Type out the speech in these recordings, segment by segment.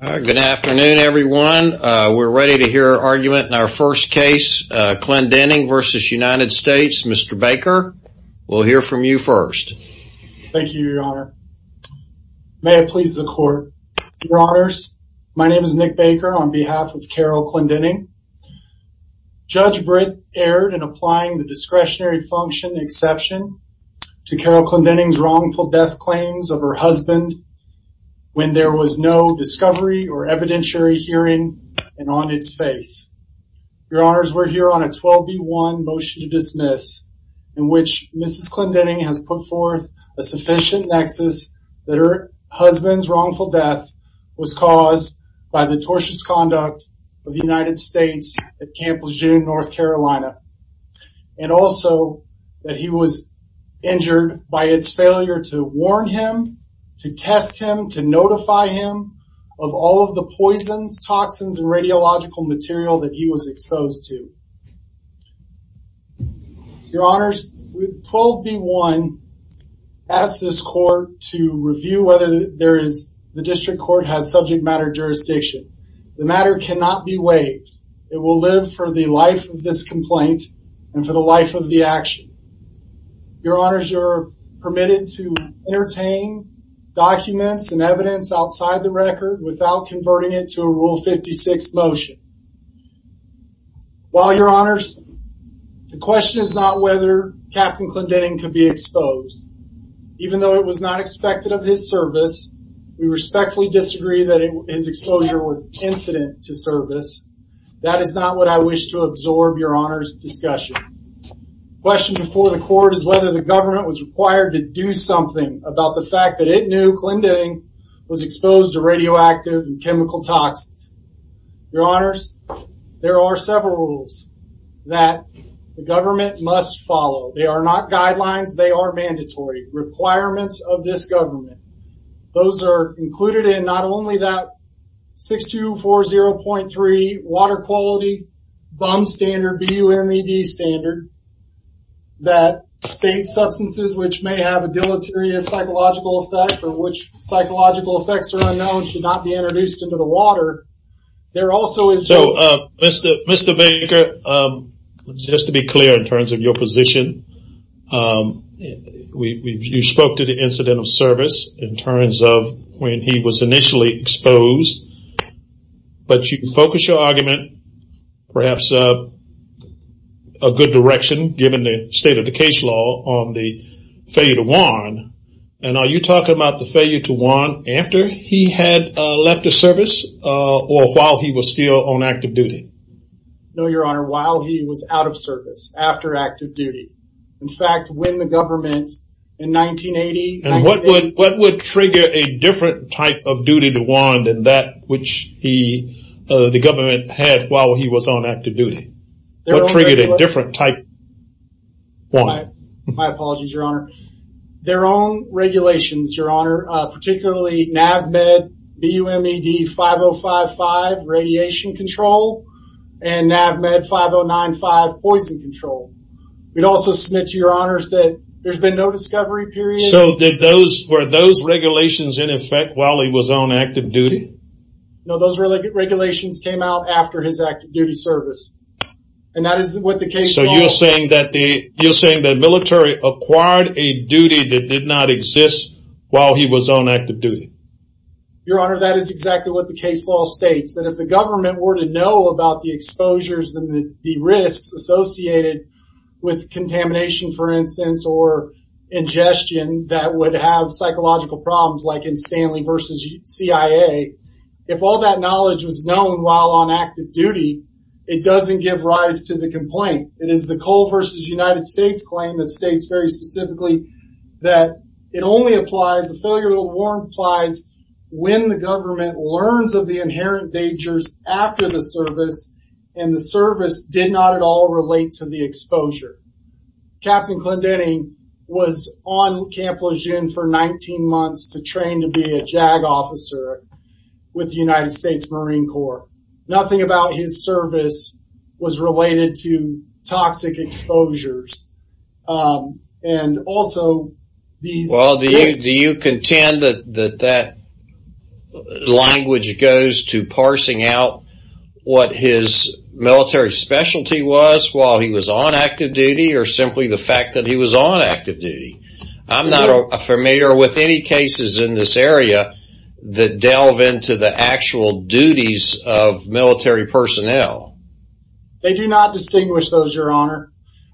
Good afternoon everyone. We're ready to hear our argument in our first case, Clendening v. United States. Mr. Baker, we'll hear from you first. Thank you, your honor. May it please the court. Your honors, my name is Nick Baker on behalf of Carol Clendening. Judge Britt erred in applying the discretionary function exception to Carol Clendening's wrongful death claims of her husband when there was no discovery or evidentiary hearing and on its face. Your honors, we're here on a 12 v. 1 motion to dismiss in which Mrs. Clendening has put forth a sufficient nexus that her husband's wrongful death was caused by the tortious conduct of the United States at Camp Lejeune, North Carolina, and also that he was injured by its failure to warn him, to test him, to notify him of all of the poisons, toxins, and radiological material that he was exposed to. Your honors, 12 v. 1 asks this court to review whether the district court has subject matter jurisdiction. The matter cannot be waived. It will live for the life of this complaint and for the life of the action. Your honors are permitted to entertain documents and evidence outside the record without converting it to a rule 56 motion. While your honors, the question is not whether Captain Clendening could be exposed. Even though it was not expected of his service, we respectfully disagree that his exposure was incident to service. That is not what I wish to absorb your honors discussion. The question before the court is whether the government was required to do something about the fact that it knew Clendening was exposed to radioactive and chemical toxins. Your honors, there are several rules that the government must follow. They are not guidelines, they are mandatory. Requirements of this government. Those are included in not only that 6240.3 water quality BUM standard, B-U-M-E-D standard, that state substances which may have a deleterious psychological effect or which psychological effects are unknown should not be introduced into the water. There also is... So Mr. Baker, just to be clear in terms of your position, you spoke to the incident of service in terms of when he was initially exposed, but you can focus your argument perhaps a good direction given the state of the case law on the failure to warn. And are you talking about the failure to warn after he had left the service or while he was still on active duty? No, your honor. While he was out of service, after active duty. In fact, when the government in 1980... And what would trigger a different type of duty to warn than that which the government had while he was on active duty? What triggered a different type? My apologies, your honor. Their own regulations, your honor, particularly NAVMED B-U-M-E-D 5055 radiation control and NAVMED 5095 poison control. We'd also submit to your honors that there's been no discovery period. So were those regulations in effect while he was on active duty? No, those regulations came out after his active duty service. And that is what the case... So you're saying that military acquired a duty that did not exist while he was on active duty? Your honor, that is exactly what the case law states, that if the government were to know about the exposures and the risks associated with contamination, for instance, or ingestion that would have psychological problems like in Stanley versus CIA, if all that knowledge was known while on active duty, it doesn't give rise to the exposure. It only applies, the failure to warn applies when the government learns of the inherent dangers after the service and the service did not at all relate to the exposure. Captain Clendening was on Camp Lejeune for 19 months to train to be a JAG officer with the United States Marine Corps. Nothing about his service was related to toxic exposures and also these... Well, do you contend that that language goes to parsing out what his military specialty was while he was on active duty or simply the fact that he was on active duty? I'm not familiar with any cases in this area that delve into the actual duties of military personnel. They do not distinguish those, your honor.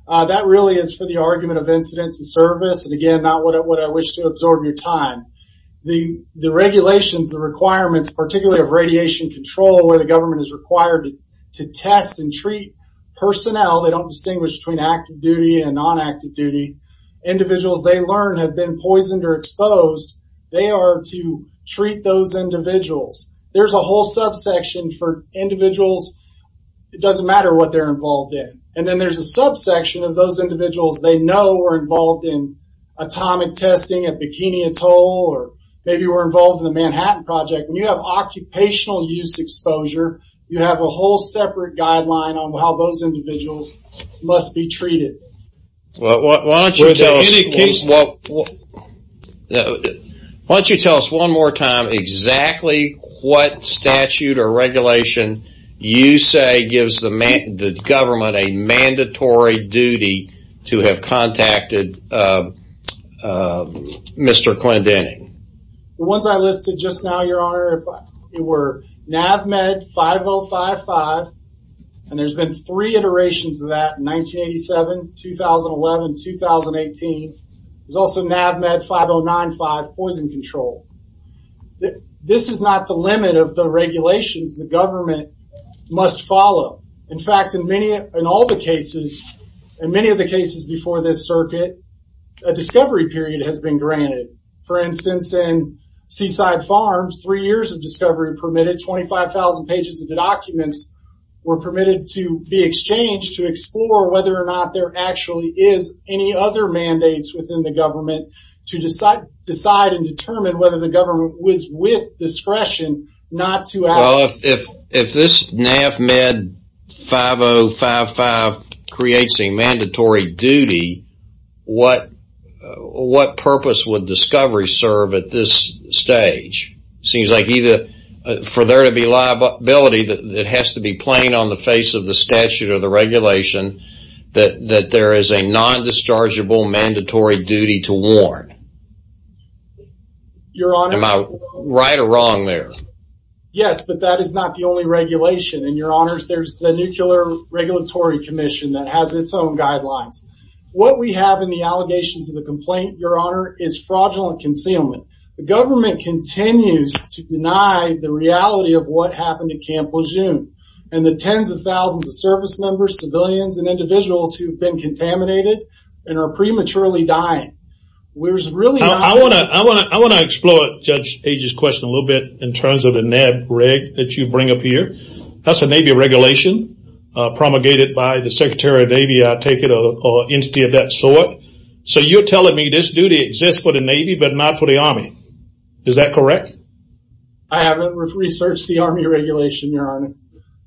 That really is for the argument of incident to service, and again, not what I wish to absorb your time. The regulations, the requirements, particularly of radiation control where the government is required to test and treat personnel, they don't distinguish between active duty and non-active duty. Individuals they learn have been poisoned or exposed, they are to treat those individuals. There's a whole subsection for individuals. It doesn't matter what they're involved in, and then there's a subsection of those individuals they know were involved in atomic testing at Bikini Atoll or maybe were involved in the Manhattan Project. When you have occupational use exposure, you have a whole separate guideline on how those Once you tell us one more time exactly what statute or regulation you say gives the government a mandatory duty to have contacted Mr. Klendening. The ones I listed just now, your honor, were NAVMED 5055, and there's been three iterations of that in 1987, 2011, 2018. There's also NAVMED 5095 poison control. This is not the limit of the regulations the government must follow. In fact, in many of the cases before this circuit, a discovery period has been granted. For instance, in Seaside Farms, three years of discovery permitted. 25,000 pages of the documents were permitted to be exchanged to explore whether or actually is any other mandates within the government to decide and determine whether the government was with discretion not to. Well, if this NAVMED 5055 creates a mandatory duty, what purpose would discovery serve at this stage? Seems like either for there to be liability that has to be playing on the face of the statute or the regulation that there is a non-dischargeable mandatory duty to warn. Am I right or wrong there? Yes, but that is not the only regulation. There's the Nuclear Regulatory Commission that has its own guidelines. What we have in the allegations of the complaint, your honor, is fraudulent concealment. The government continues to deny the reality of what happened at Camp Lejeune and the tens of thousands of service members, civilians, and individuals who've been contaminated and are prematurely dying. I want to explore Judge Agee's question a little bit in terms of a NAVMED reg that you bring up here. That's a Navy regulation promulgated by the Secretary of Navy, I take it, or entity of that sort. So you're telling me this duty exists for the Navy but not for the Army. Is that correct? I haven't researched the Army regulation, your honor.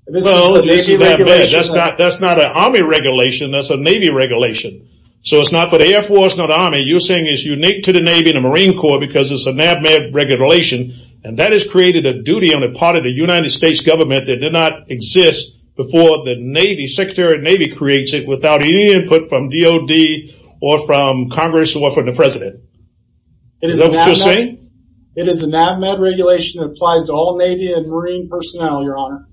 That's not an Army regulation, that's a Navy regulation. So it's not for the Air Force, not Army. You're saying it's unique to the Navy and the Marine Corps because it's a NAVMED regulation and that has created a duty on the part of the United States government that did not exist before the Navy. Secretary of Navy creates it without any input from DOD or from DOD. It's a NAVMED regulation that applies to all Navy and Marine personnel, your honor.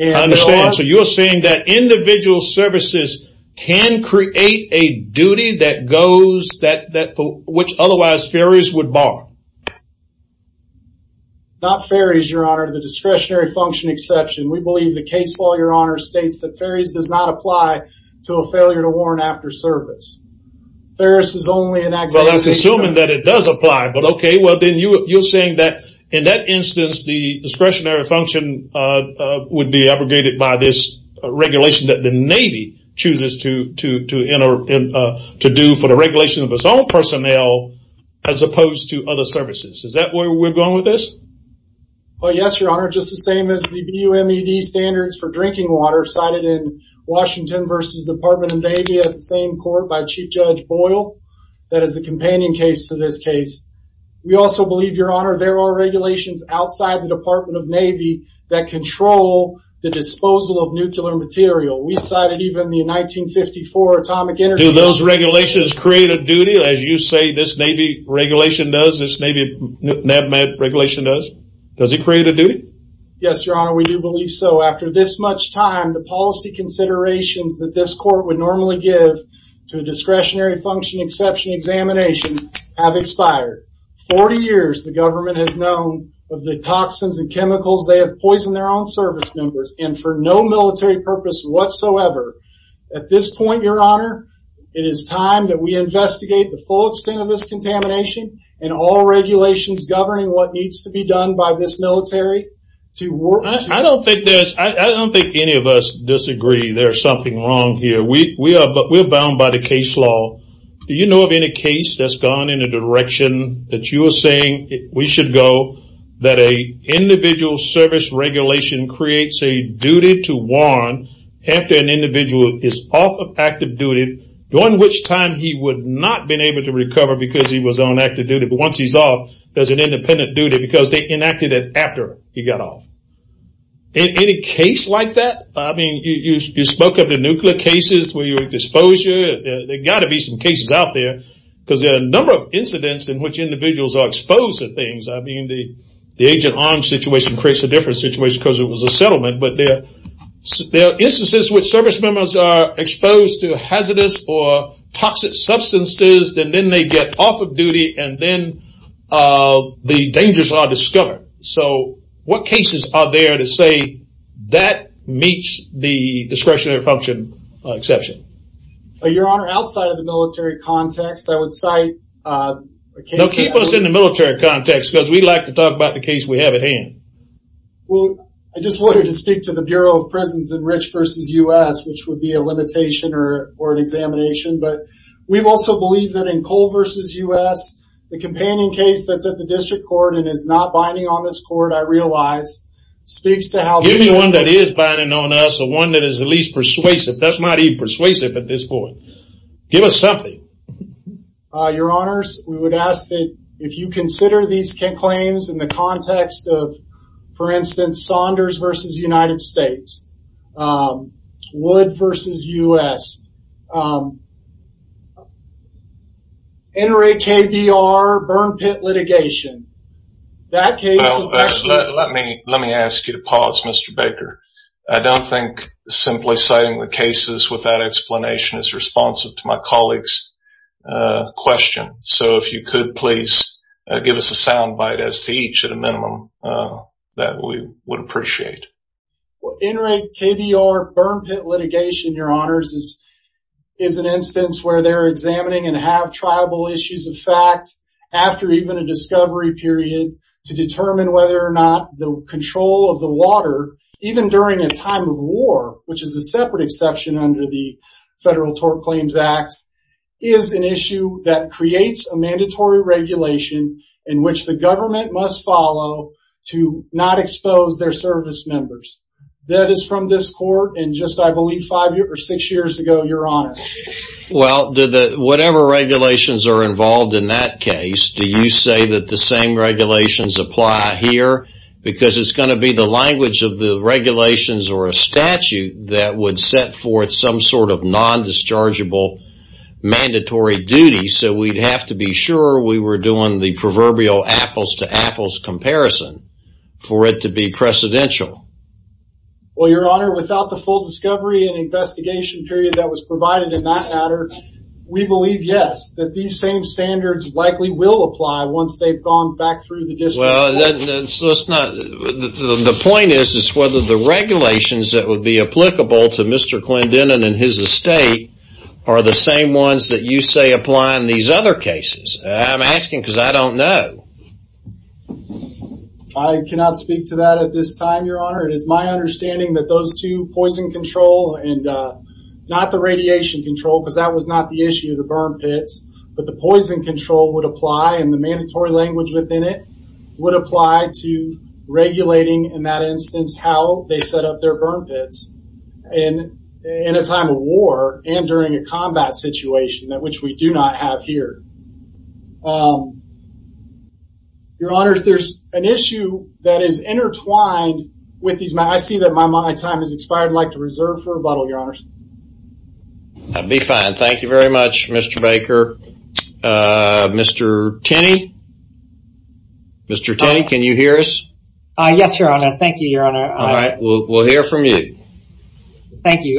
I understand. So you're saying that individual services can create a duty which otherwise ferries would bar? Not ferries, your honor, the discretionary function exception. We believe the case law, your honor, states that ferries does not apply to a failure to warn after service. Ferris is only an activity... I was assuming that it does apply, but okay. Well, then you're saying that in that instance, the discretionary function would be abrogated by this regulation that the Navy chooses to do for the regulation of its own personnel as opposed to other services. Is that where we're going with this? Yes, your honor. Just the same as the BUMED standards for drinking water cited in Washington versus Department of Navy at the same court by Chief Judge Boyle. That is the companion case to this case. We also believe, your honor, there are regulations outside the Department of Navy that control the disposal of nuclear material. We cited even the 1954 atomic energy... Do those regulations create a duty as you say this Navy regulation does, this Navy NAVMED regulation does? Does it create a duty? Yes, your honor. We do believe so. After this much time, the policy considerations that this court would normally give to a discretionary exception examination have expired. 40 years the government has known of the toxins and chemicals they have poisoned their own service members and for no military purpose whatsoever. At this point, your honor, it is time that we investigate the full extent of this contamination and all regulations governing what needs to be done by this military to work... I don't think any of us agree there's something wrong here. We are bound by the case law. Do you know of any case that's gone in a direction that you are saying we should go that a individual service regulation creates a duty to warrant after an individual is off of active duty, during which time he would not been able to recover because he was on active duty, but once he's off, there's an independent duty because they enacted it after he got off. In any case like that, I mean, you spoke of the nuclear cases where you would dispose, there got to be some cases out there because there are a number of incidents in which individuals are exposed to things. I mean, the agent arm situation creates a different situation because it was a settlement, but there are instances which service members are exposed to hazardous or toxic substances and then they get off of duty and then the dangers are discovered. So what cases are there to say that meets the discretionary function exception? Your honor, outside of the military context, I would cite... Keep us in the military context because we like to talk about the case we have at hand. Well, I just wanted to speak to the Bureau of Prisons in Rich v. U.S., which would be a limitation or an examination, but we've also believed that in Cole v. U.S., the companion case that's at the district court and is not binding on this court, I realize, speaks to how... Give me one that is binding on us or one that is at least persuasive. That's not even persuasive at this point. Give us something. Your honors, we would ask that if you consider these claims in the context of, for instance, Saunders v. United States, Wood v. U.S., NRAKBR burn pit litigation, that case is actually... Let me ask you to pause, Mr. Baker. I don't think simply citing the cases without explanation is responsive to my colleague's question. So if you could please give us a sound bite as to each at a minimum that we would appreciate. NRAKBR burn pit litigation, your honors, is an instance where they're examining and have tribal issues of fact after even a discovery period to determine whether or not the control of the water, even during a time of war, which is a separate exception under the Federal Tort Claims Act, is an issue that creates a mandatory regulation in which the government must follow to not expose their service members. That is from this court in just, I believe, six years ago, your honors. Well, whatever regulations are involved in that case, do you say that the same regulations apply here? Because it's going to be the language of the regulations or a statute that would set forth some sort of non-dischargeable mandatory duty. So we'd have to be sure we were doing the proverbial apples to apples comparison for it to be precedential. Well, your honor, without the full discovery and investigation period that was provided in that matter, we believe, yes, that these same standards likely will apply once they've gone back through the district. Well, the point is whether the regulations that would be applicable to Mr. Clendenin and his estate are the same ones that you say apply in these other cases. I'm asking because I don't know. I cannot speak to that at this time, your honor. It is my understanding that those two, poison control and not the radiation control, because that was not the issue of the burn pits, but the poison control would apply and the mandatory language within it would apply to regulating in that instance how they set up their burn pits in a time of war and during a combat situation that which we do not have here. Your honors, there's an issue that is intertwined with these matters. I see that my time has expired. I'd like to reserve for rebuttal, your honors. That'd be fine. Thank you very much, Mr. Baker. Mr. Tenney? Mr. Tenney, can you hear us? Yes, your honor. Thank you, your honor. All right. Thank you,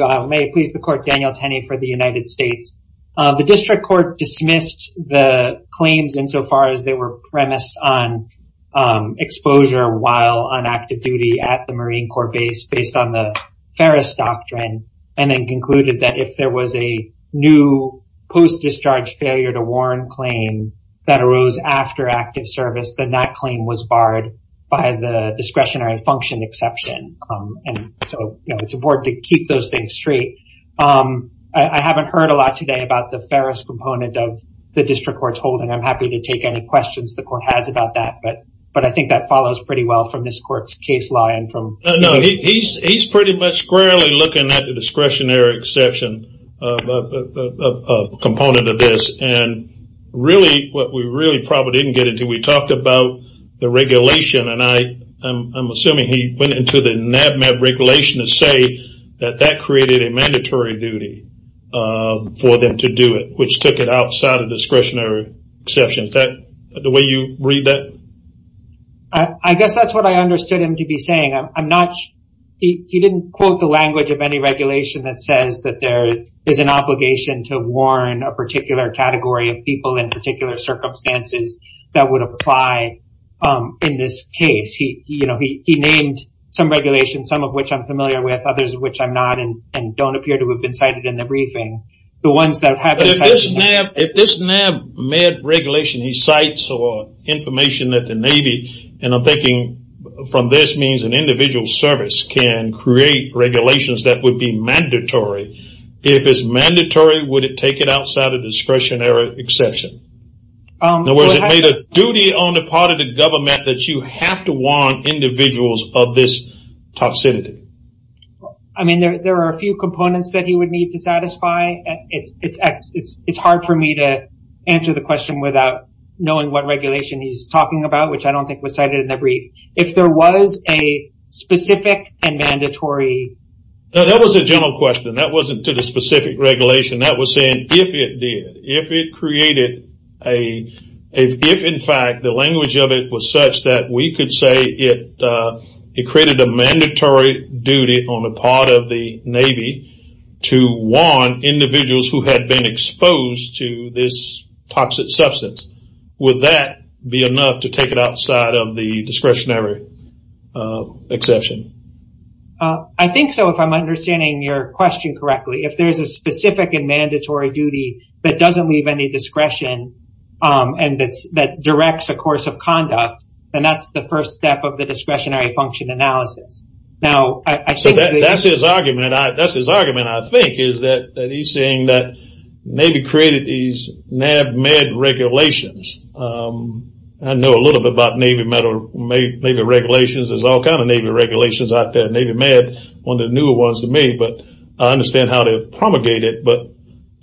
Mr. Tenney for the United States. The district court dismissed the claims insofar as they were premised on exposure while on active duty at the Marine Corps base based on the Ferris doctrine and then concluded that if there was a new post-discharge failure to warrant claim that arose after active service, then that claim was barred by the discretionary function exception. So it's important to keep those things straight. I haven't heard a lot today about the Ferris component of the district court's holding. I'm happy to take any questions the court has about that, but I think that follows pretty well from this court's case law and from... No, he's pretty much squarely looking at the discretionary exception component of this and really what we really probably didn't get into, we talked about the regulation and I'm assuming he went into the regulation to say that that created a mandatory duty for them to do it, which took it outside of discretionary exceptions. Is that the way you read that? I guess that's what I understood him to be saying. He didn't quote the language of any regulation that says that there is an obligation to warn a particular category of people in particular circumstances that would apply in this case. He named some regulations, some of which I'm familiar with, others of which I'm not and don't appear to have been cited in the briefing, the ones that have been... If this NAB med regulation he cites or information that the Navy, and I'm thinking from this means an individual service can create regulations that would be mandatory. If it's mandatory, would it outside of discretionary exception? In other words, it made a duty on the part of the government that you have to warn individuals of this toxicity. I mean, there are a few components that he would need to satisfy. It's hard for me to answer the question without knowing what regulation he's talking about, which I don't think was cited in the brief. If there was a specific and mandatory... That was a general question. That wasn't to the specific regulation. That was saying if it did, if it created a... If in fact the language of it was such that we could say it created a mandatory duty on the part of the Navy to warn individuals who had been exposed to this toxic substance, would that be enough to take it outside of the discretionary exception? I think so, if I'm understanding your question correctly. If there's a specific and mandatory duty that doesn't leave any discretion and that directs a course of conduct, then that's the first step of the discretionary function analysis. Now, I... So that's his argument. That's his argument, I think, is that he's saying that Navy created these NAB med regulations. I know a little bit about Navy regulations. There's all kinds of Navy regulations out there. Navy med, one of the newer ones to me, but I understand how they promulgate it. But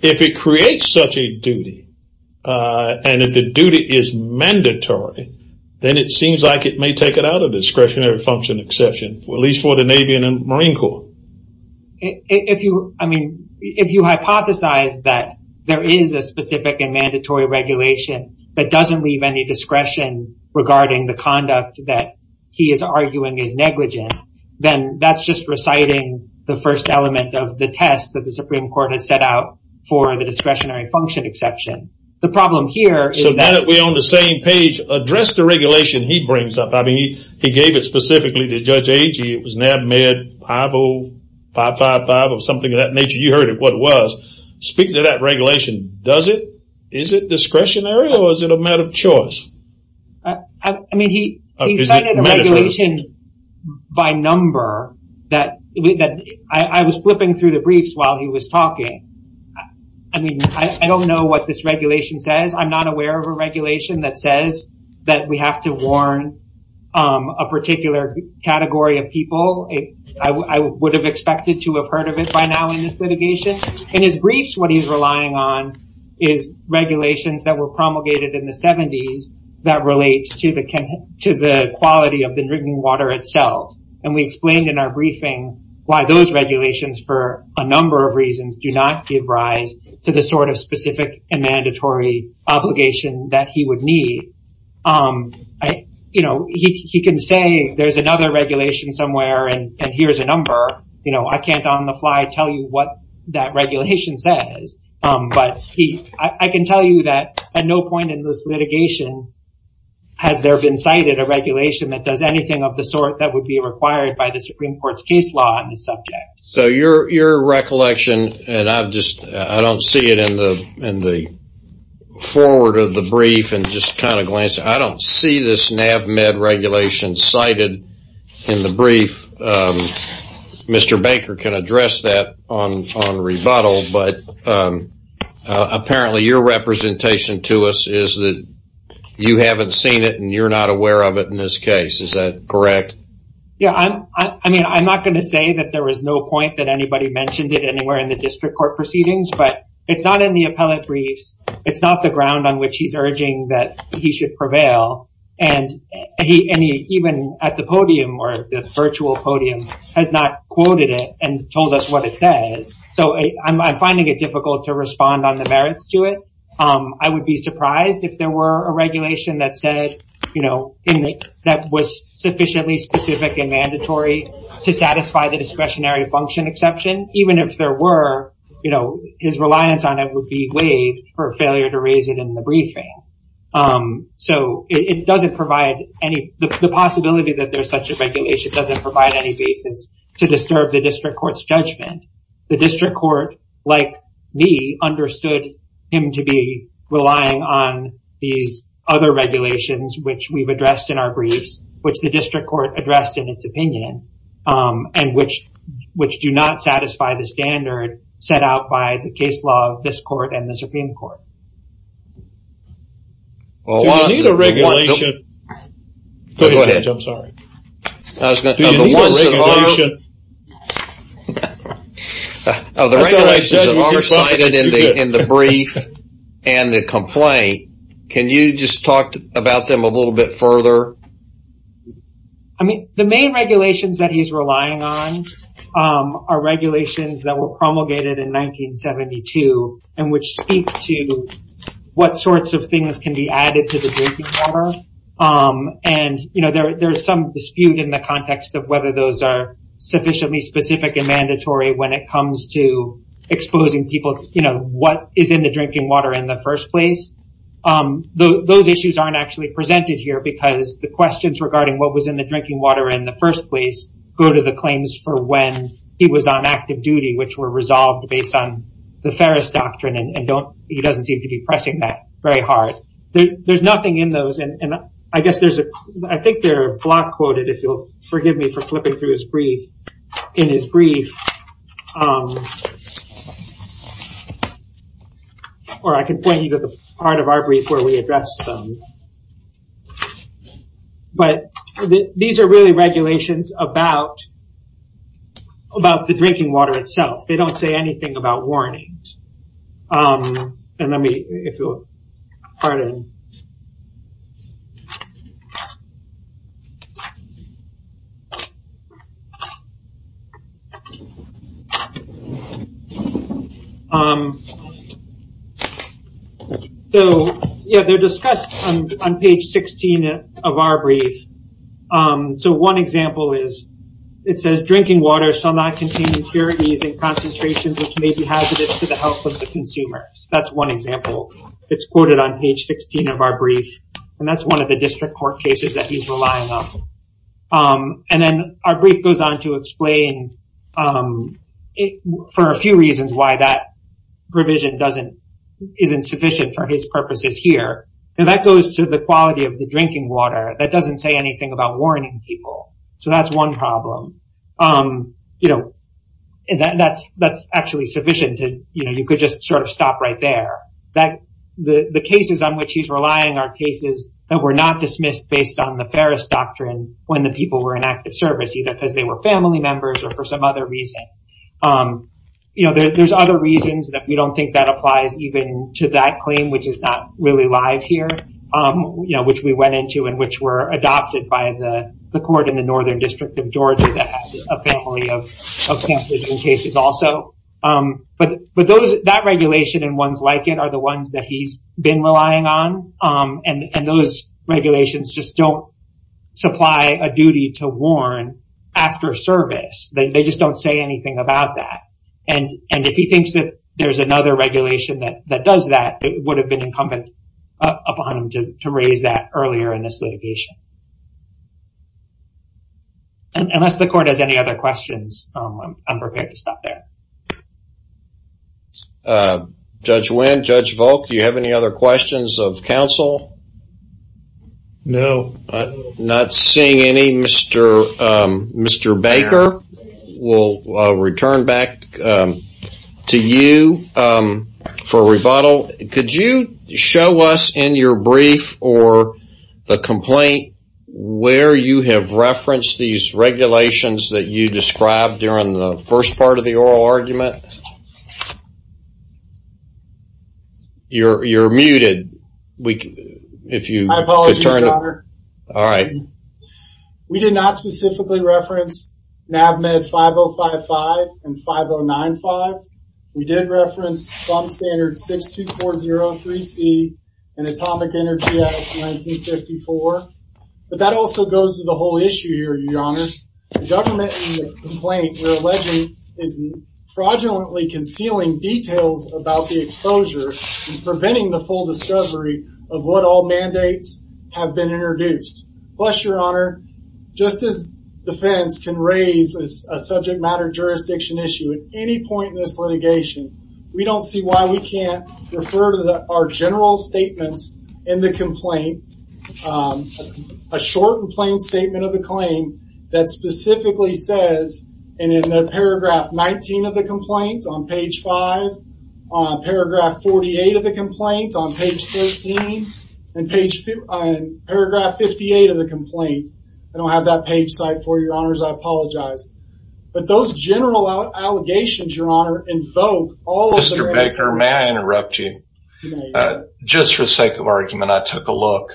if it creates such a duty, and if the duty is mandatory, then it seems like it may take it out of discretionary function exception, at least for the Navy and the Marine Corps. If you hypothesize that there is a specific and mandatory regulation that doesn't leave any discretion regarding the conduct that he is arguing is negligent, then that's just reciting the first element of the test that the Supreme Court has set out for the discretionary function exception. The problem here is that... So now that we're on the same page, address the regulation he brings up. I mean, he gave it specifically to Judge Agee. It was NAB med 50555 or something of that nature. You heard what it was. Speaking of that is it discretionary or is it a matter of choice? I mean, he cited a regulation by number that I was flipping through the briefs while he was talking. I mean, I don't know what this regulation says. I'm not aware of a regulation that says that we have to warn a particular category of people. I would have expected to have heard of by now in this litigation. In his briefs, what he's relying on is regulations that were promulgated in the 70s that relate to the quality of the drinking water itself. We explained in our briefing why those regulations for a number of reasons do not give rise to the specific and mandatory obligation that he would need. He can say there's another regulation somewhere and here's a number. I can't on the fly tell you what that regulation says, but I can tell you that at no point in this litigation has there been cited a regulation that does anything of the sort that would be required by the Supreme Court's case law on this subject. So your recollection, and I don't see it in the forward of the brief and just kind of glance. I don't see this NAB med regulation cited in the brief. Mr. Baker can address that on rebuttal, but apparently your representation to us is that you haven't seen it and you're not aware of it in this case. Is that correct? Yeah, I mean, I'm not going to say that there was no point that anybody mentioned it anywhere in the district court proceedings, but it's not in the appellate briefs. It's not the ground on which he's urging that he should prevail. And he, even at the podium or the virtual podium has not quoted it and told us what it says. So I'm finding it difficult to respond on the merits to it. I would be surprised if there were a regulation that said, you know, that was sufficiently specific and mandatory to satisfy the discretionary function exception, even if there were, you know, his reliance on it would be waived for failure to raise it in the briefing. So it doesn't provide any, the possibility that there's such a regulation doesn't provide any basis to disturb the district court's judgment. The district court, like me, understood him to be relying on these other regulations, which we've addressed in our briefs, which the district court addressed in its opinion, and which do not satisfy the standard set out by the case law of this court and the Supreme Court. Do you need a regulation? Go ahead, Judge, I'm sorry. Of the regulations that are cited in the brief and the complaint, can you just talk about them a little bit further? I mean, the main regulations that he's relying on are regulations that were promulgated in 1972, and which speak to what sorts of things can be added to the drinking water. And, you know, there's some dispute in the context of whether those are sufficiently specific and mandatory when it comes to exposing people, you know, what is in the water in the first place. Those issues aren't actually presented here, because the questions regarding what was in the drinking water in the first place go to the claims for when he was on active duty, which were resolved based on the Ferris Doctrine, and he doesn't seem to be pressing that very hard. There's nothing in those, and I guess there's, I think they're block quoted, if you'll forgive me for flipping through his brief, in his brief. Or I can point you to the part of our brief where we address them. But these are really regulations about the drinking water itself. They don't say anything about warnings. And let me, if you'll pardon. So, yeah, they're discussed on page 16 of our brief. So one example is, it says drinking water shall not contain impurities in concentration, which may be hazardous to the health of the consumer. That's one example. It's quoted on page 16 of our brief, and that's one of the district court cases that he's relying on. And then our brief goes on to explain for a few reasons why that provision isn't sufficient for his purposes here. And that goes to the quality of the drinking water. That doesn't say anything about warning people. So that's one problem. That's actually sufficient. You could just sort of stop right there. The cases on which he's relying are cases that were not dismissed based on the Ferris Doctrine when the people were in active service, either because they were family members or for some other reason. There's other reasons that we don't think that applies even to that claim, which is not really live here, which we went into and which were adopted by the court in the Northern District of Georgia that has a family of cases also. But that regulation and ones like it are the ones that he's been relying on. And those regulations just don't supply a duty to warn after service. They just don't say anything about that. And if he thinks that there's another regulation that does that, it would have been incumbent upon him to raise that earlier in this litigation. Unless the court has any other questions, I'm prepared to stop there. Judge Wendt, Judge Volk, do you have any other questions of counsel? No. Not seeing any. Mr. Baker, we'll return back to you for rebuttal. Could you show us in your brief or the complaint where you have referenced these regulations that you described during the If you could turn... I apologize, Your Honor. All right. We did not specifically reference NAVMED 5055 and 5095. We did reference bomb standard 62403C and Atomic Energy Act of 1954. But that also goes to the whole issue here, Your Honors. The government in the complaint we're alleging is fraudulently concealing details about the exposure and preventing the full discovery of what all mandates have been introduced. Plus, Your Honor, just as defense can raise a subject matter jurisdiction issue at any point in this litigation, we don't see why we can't refer to our general statements in the complaint, a short and plain statement of the claim that specifically says, and in the paragraph 19 of the complaint, on page 5, on paragraph 48 of the complaint, on page 13, and paragraph 58 of the complaint. I don't have that page cite for you, Your Honors. I apologize. But those general allegations, Your Honor, invoke all... Mr. Baker, may I interrupt you? Just for the sake of argument, I took a look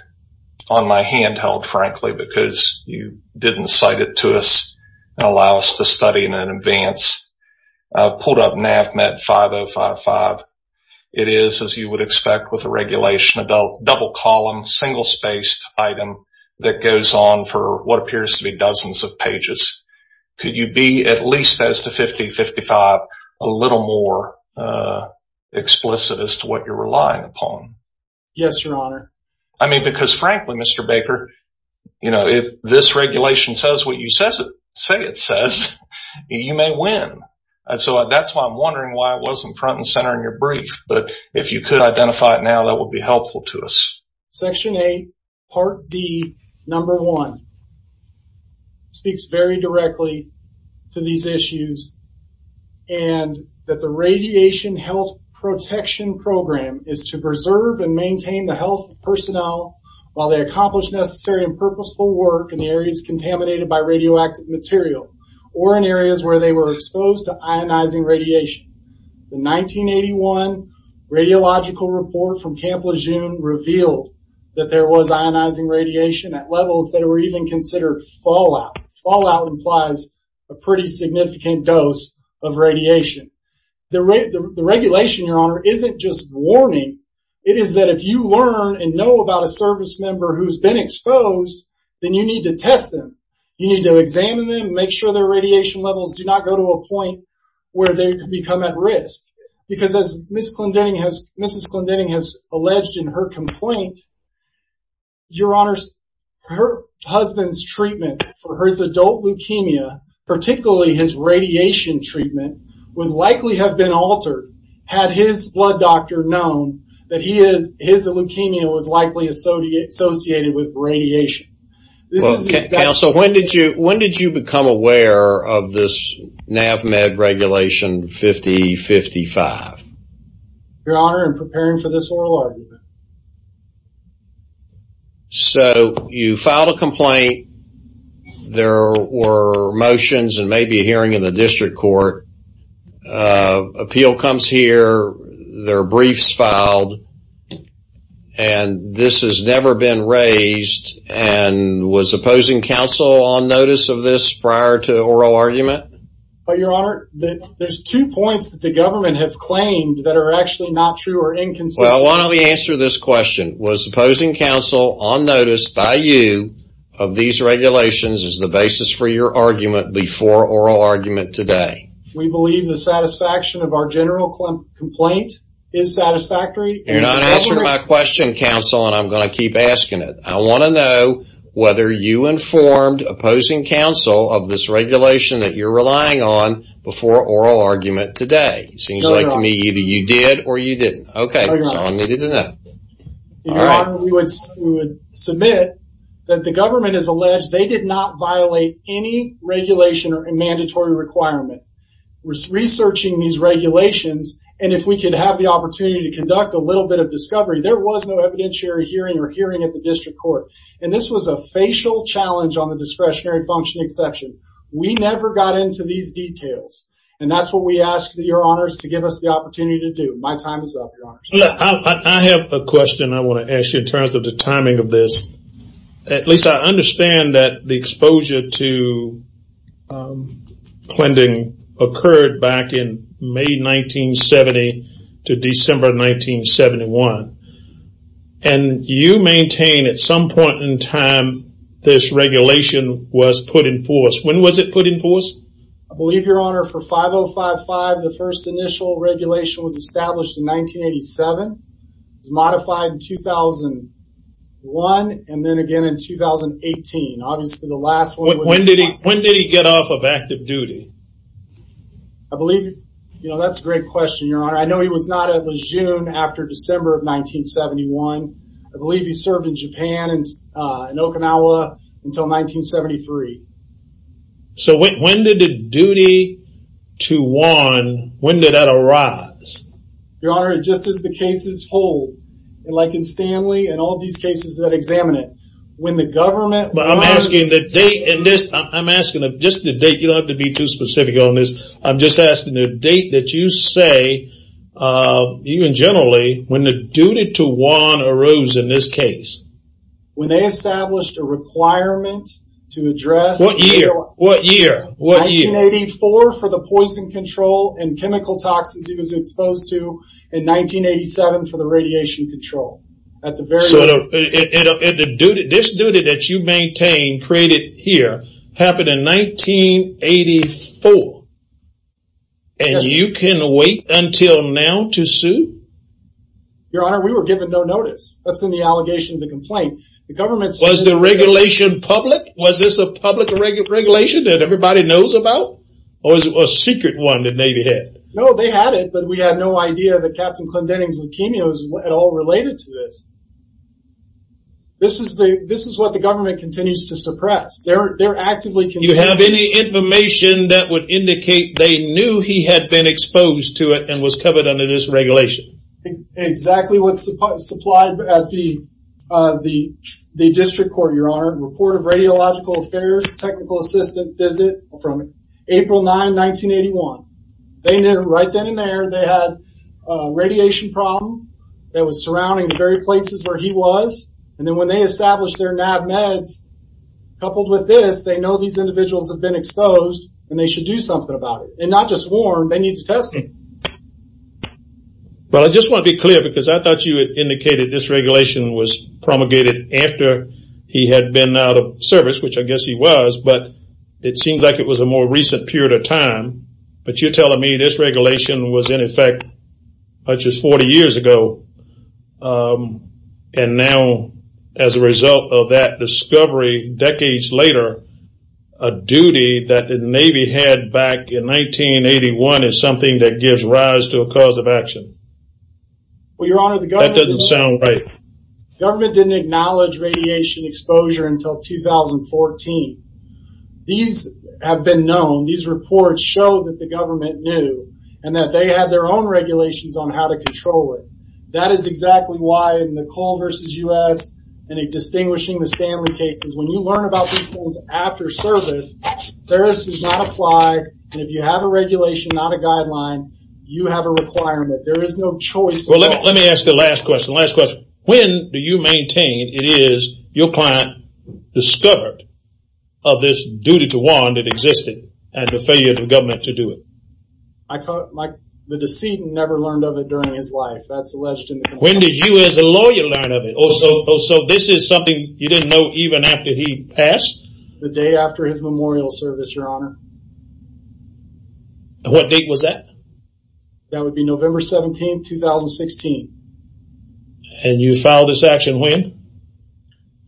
on my handheld, frankly, because you didn't cite it to us and allow us to study in advance. I pulled up NAVMET 5055. It is, as you would expect with a regulation, a double column, single spaced item that goes on for what appears to be dozens of pages. Could you be at least as to 5055, a little more explicit as to what you're relying upon? Yes, Your Honor. I mean, because frankly, Mr. Baker, you know, if this regulation says what you say it says, you may win. And so that's why I'm wondering why it wasn't front and center in your brief. But if you could identify it now, that would be helpful to us. Section 8, Part D, number 1, speaks very directly to these issues and that the Radiation Health Protection Program is to preserve and maintain the health of personnel while they accomplish necessary and purposeful work in the areas contaminated by radioactive material or in areas where they were exposed to ionizing radiation. The 1981 radiological report from Camp Lejeune revealed that there was ionizing radiation at levels that were even considered fallout. Fallout implies a pretty significant dose of radiation. The regulation, Your Honor, isn't just warning. It is that if you learn and know about a service member who's been exposed, then you need to test them. You need to examine them, make sure their radiation levels do not go to a point where they become at risk. Because as Mrs. Clendening has alleged in her complaint, Your Honor, her husband's treatment for his adult treatment would likely have been altered had his blood doctor known that his leukemia was likely associated with radiation. When did you become aware of this NAVMED regulation 5055? Your Honor, I'm preparing for this oral argument. So, you filed a complaint. There were motions and maybe a hearing in the district court. Appeal comes here. There are briefs filed. And this has never been raised. And was opposing counsel on notice of this prior to oral argument? But, Your Honor, there's two points that the government have claimed that are actually not true or inconsistent. Well, one of the answers to this question, was opposing counsel on notice by you of these regulations as the basis for your argument before oral argument today? We believe the satisfaction of our general complaint is satisfactory. You're not answering my question, counsel, and I'm going to keep asking it. I want to know whether you informed opposing counsel of this regulation that you're relying on before oral argument today? It seems like to me either you did or you didn't. Okay, so I needed to know. Your Honor, we would submit that the government has alleged they did not violate any regulation or a mandatory requirement. We're researching these regulations and if we could have the opportunity to conduct a little bit of discovery, there was no evidentiary hearing or hearing at the district court. And this was a facial challenge on the discretionary function exception. We never got into these details and that's what we ask that Your Honors to give us the opportunity to do. My time is up, Your Honors. I have a question I want to ask you in terms of the timing of this. At least I understand that the exposure to cleansing occurred back in May 1970 to December 1971. And you maintain at some point in time this regulation was put in force. When was it put in force? I believe, Your Honor, for 5055, the first initial regulation was established in 1987. It was modified in 2001 and then again in 2018. Obviously the last one. When did he get off of active duty? I believe, you know, that's a great question, Your Honor. I know he was not at Lejeune after December of 1971. I believe he served in Japan and Okinawa until 1973. So when did the duty to one, when did that arise? Your Honor, just as the cases hold, like in Stanley and all these cases that examine it, when the government... But I'm asking the date in this, I'm asking just the date, you don't have to be too specific on this. I'm just asking the date that you say, even generally, when the duty to one arose in this case. When they established a requirement to address... What year? What year? What year? 1984 for the poison control and chemical toxins he was exposed to, and 1987 for the radiation control. At the very... So this duty that you maintain, created here, happened in 1984. And you can wait until now to sue? Your Honor, we were given no notice. That's in the allegation of the complaint. The government... Was the regulation public? Was this a public regulation that everybody knows about? Or was it a secret one that Navy had? No, they had it, but we had no idea that Captain Clinton's leukemia was at all related to this. This is what the government continues to suppress. They're actively... Do you have any information that would indicate they knew he had been exposed to it and was covered under this regulation? Exactly what's supplied at the district court, Your Honor. Report of radiological affairs, technical assistant visit from April 9, 1981. They knew right then and there they had a radiation problem that was surrounding the very places where he was. And then when they established their NAB meds, coupled with this, they know these individuals have been exposed and they should do something about it. And not just warn, they need to test it. Well, I just want to be clear because I thought you had indicated this regulation was promulgated after he had been out of service, which I guess he was, but it seems like it was a more recent period of time. But you're telling me this regulation was in effect as much as 40 years ago. And now, as a result of that discovery decades later, a duty that the Navy had back in 1981 is something that gives rise to a cause of action. Well, Your Honor, the government... That doesn't sound right. Government didn't acknowledge radiation exposure until 2014. These have been known. These reports show that the government knew and that they had their own regulations on how to control it. That is exactly why in the Cole U.S. and in distinguishing the Stanley cases, when you learn about these things after service, Paris does not apply. And if you have a regulation, not a guideline, you have a requirement. There is no choice. Well, let me ask the last question. Last question. When do you maintain it is your client discovered of this duty to warn that existed and the failure of the government to do it? The decedent never learned of it during his life. That's alleged. When did you as a lawyer learn of it? So this is something you didn't know even after he passed? The day after his memorial service, Your Honor. What date was that? That would be November 17, 2016. And you filed this action when?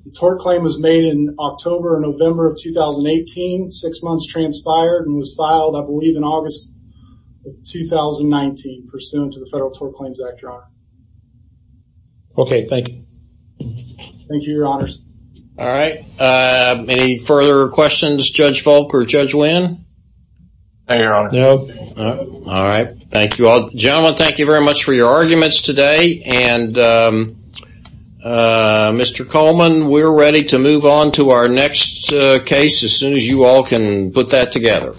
The tort claim was made in October and November of 2018. Six months transpired and was filed, I believe, in August of 2019 pursuant to the Federal Tort Claims Act, Your Honor. Okay. Thank you. Thank you, Your Honors. All right. Any further questions, Judge Volk or Judge Wynn? No, Your Honor. No. All right. Thank you all. Gentlemen, thank you very much for your arguments today. And Mr. Coleman, we're ready to move on to our next case as soon as you all can put that together.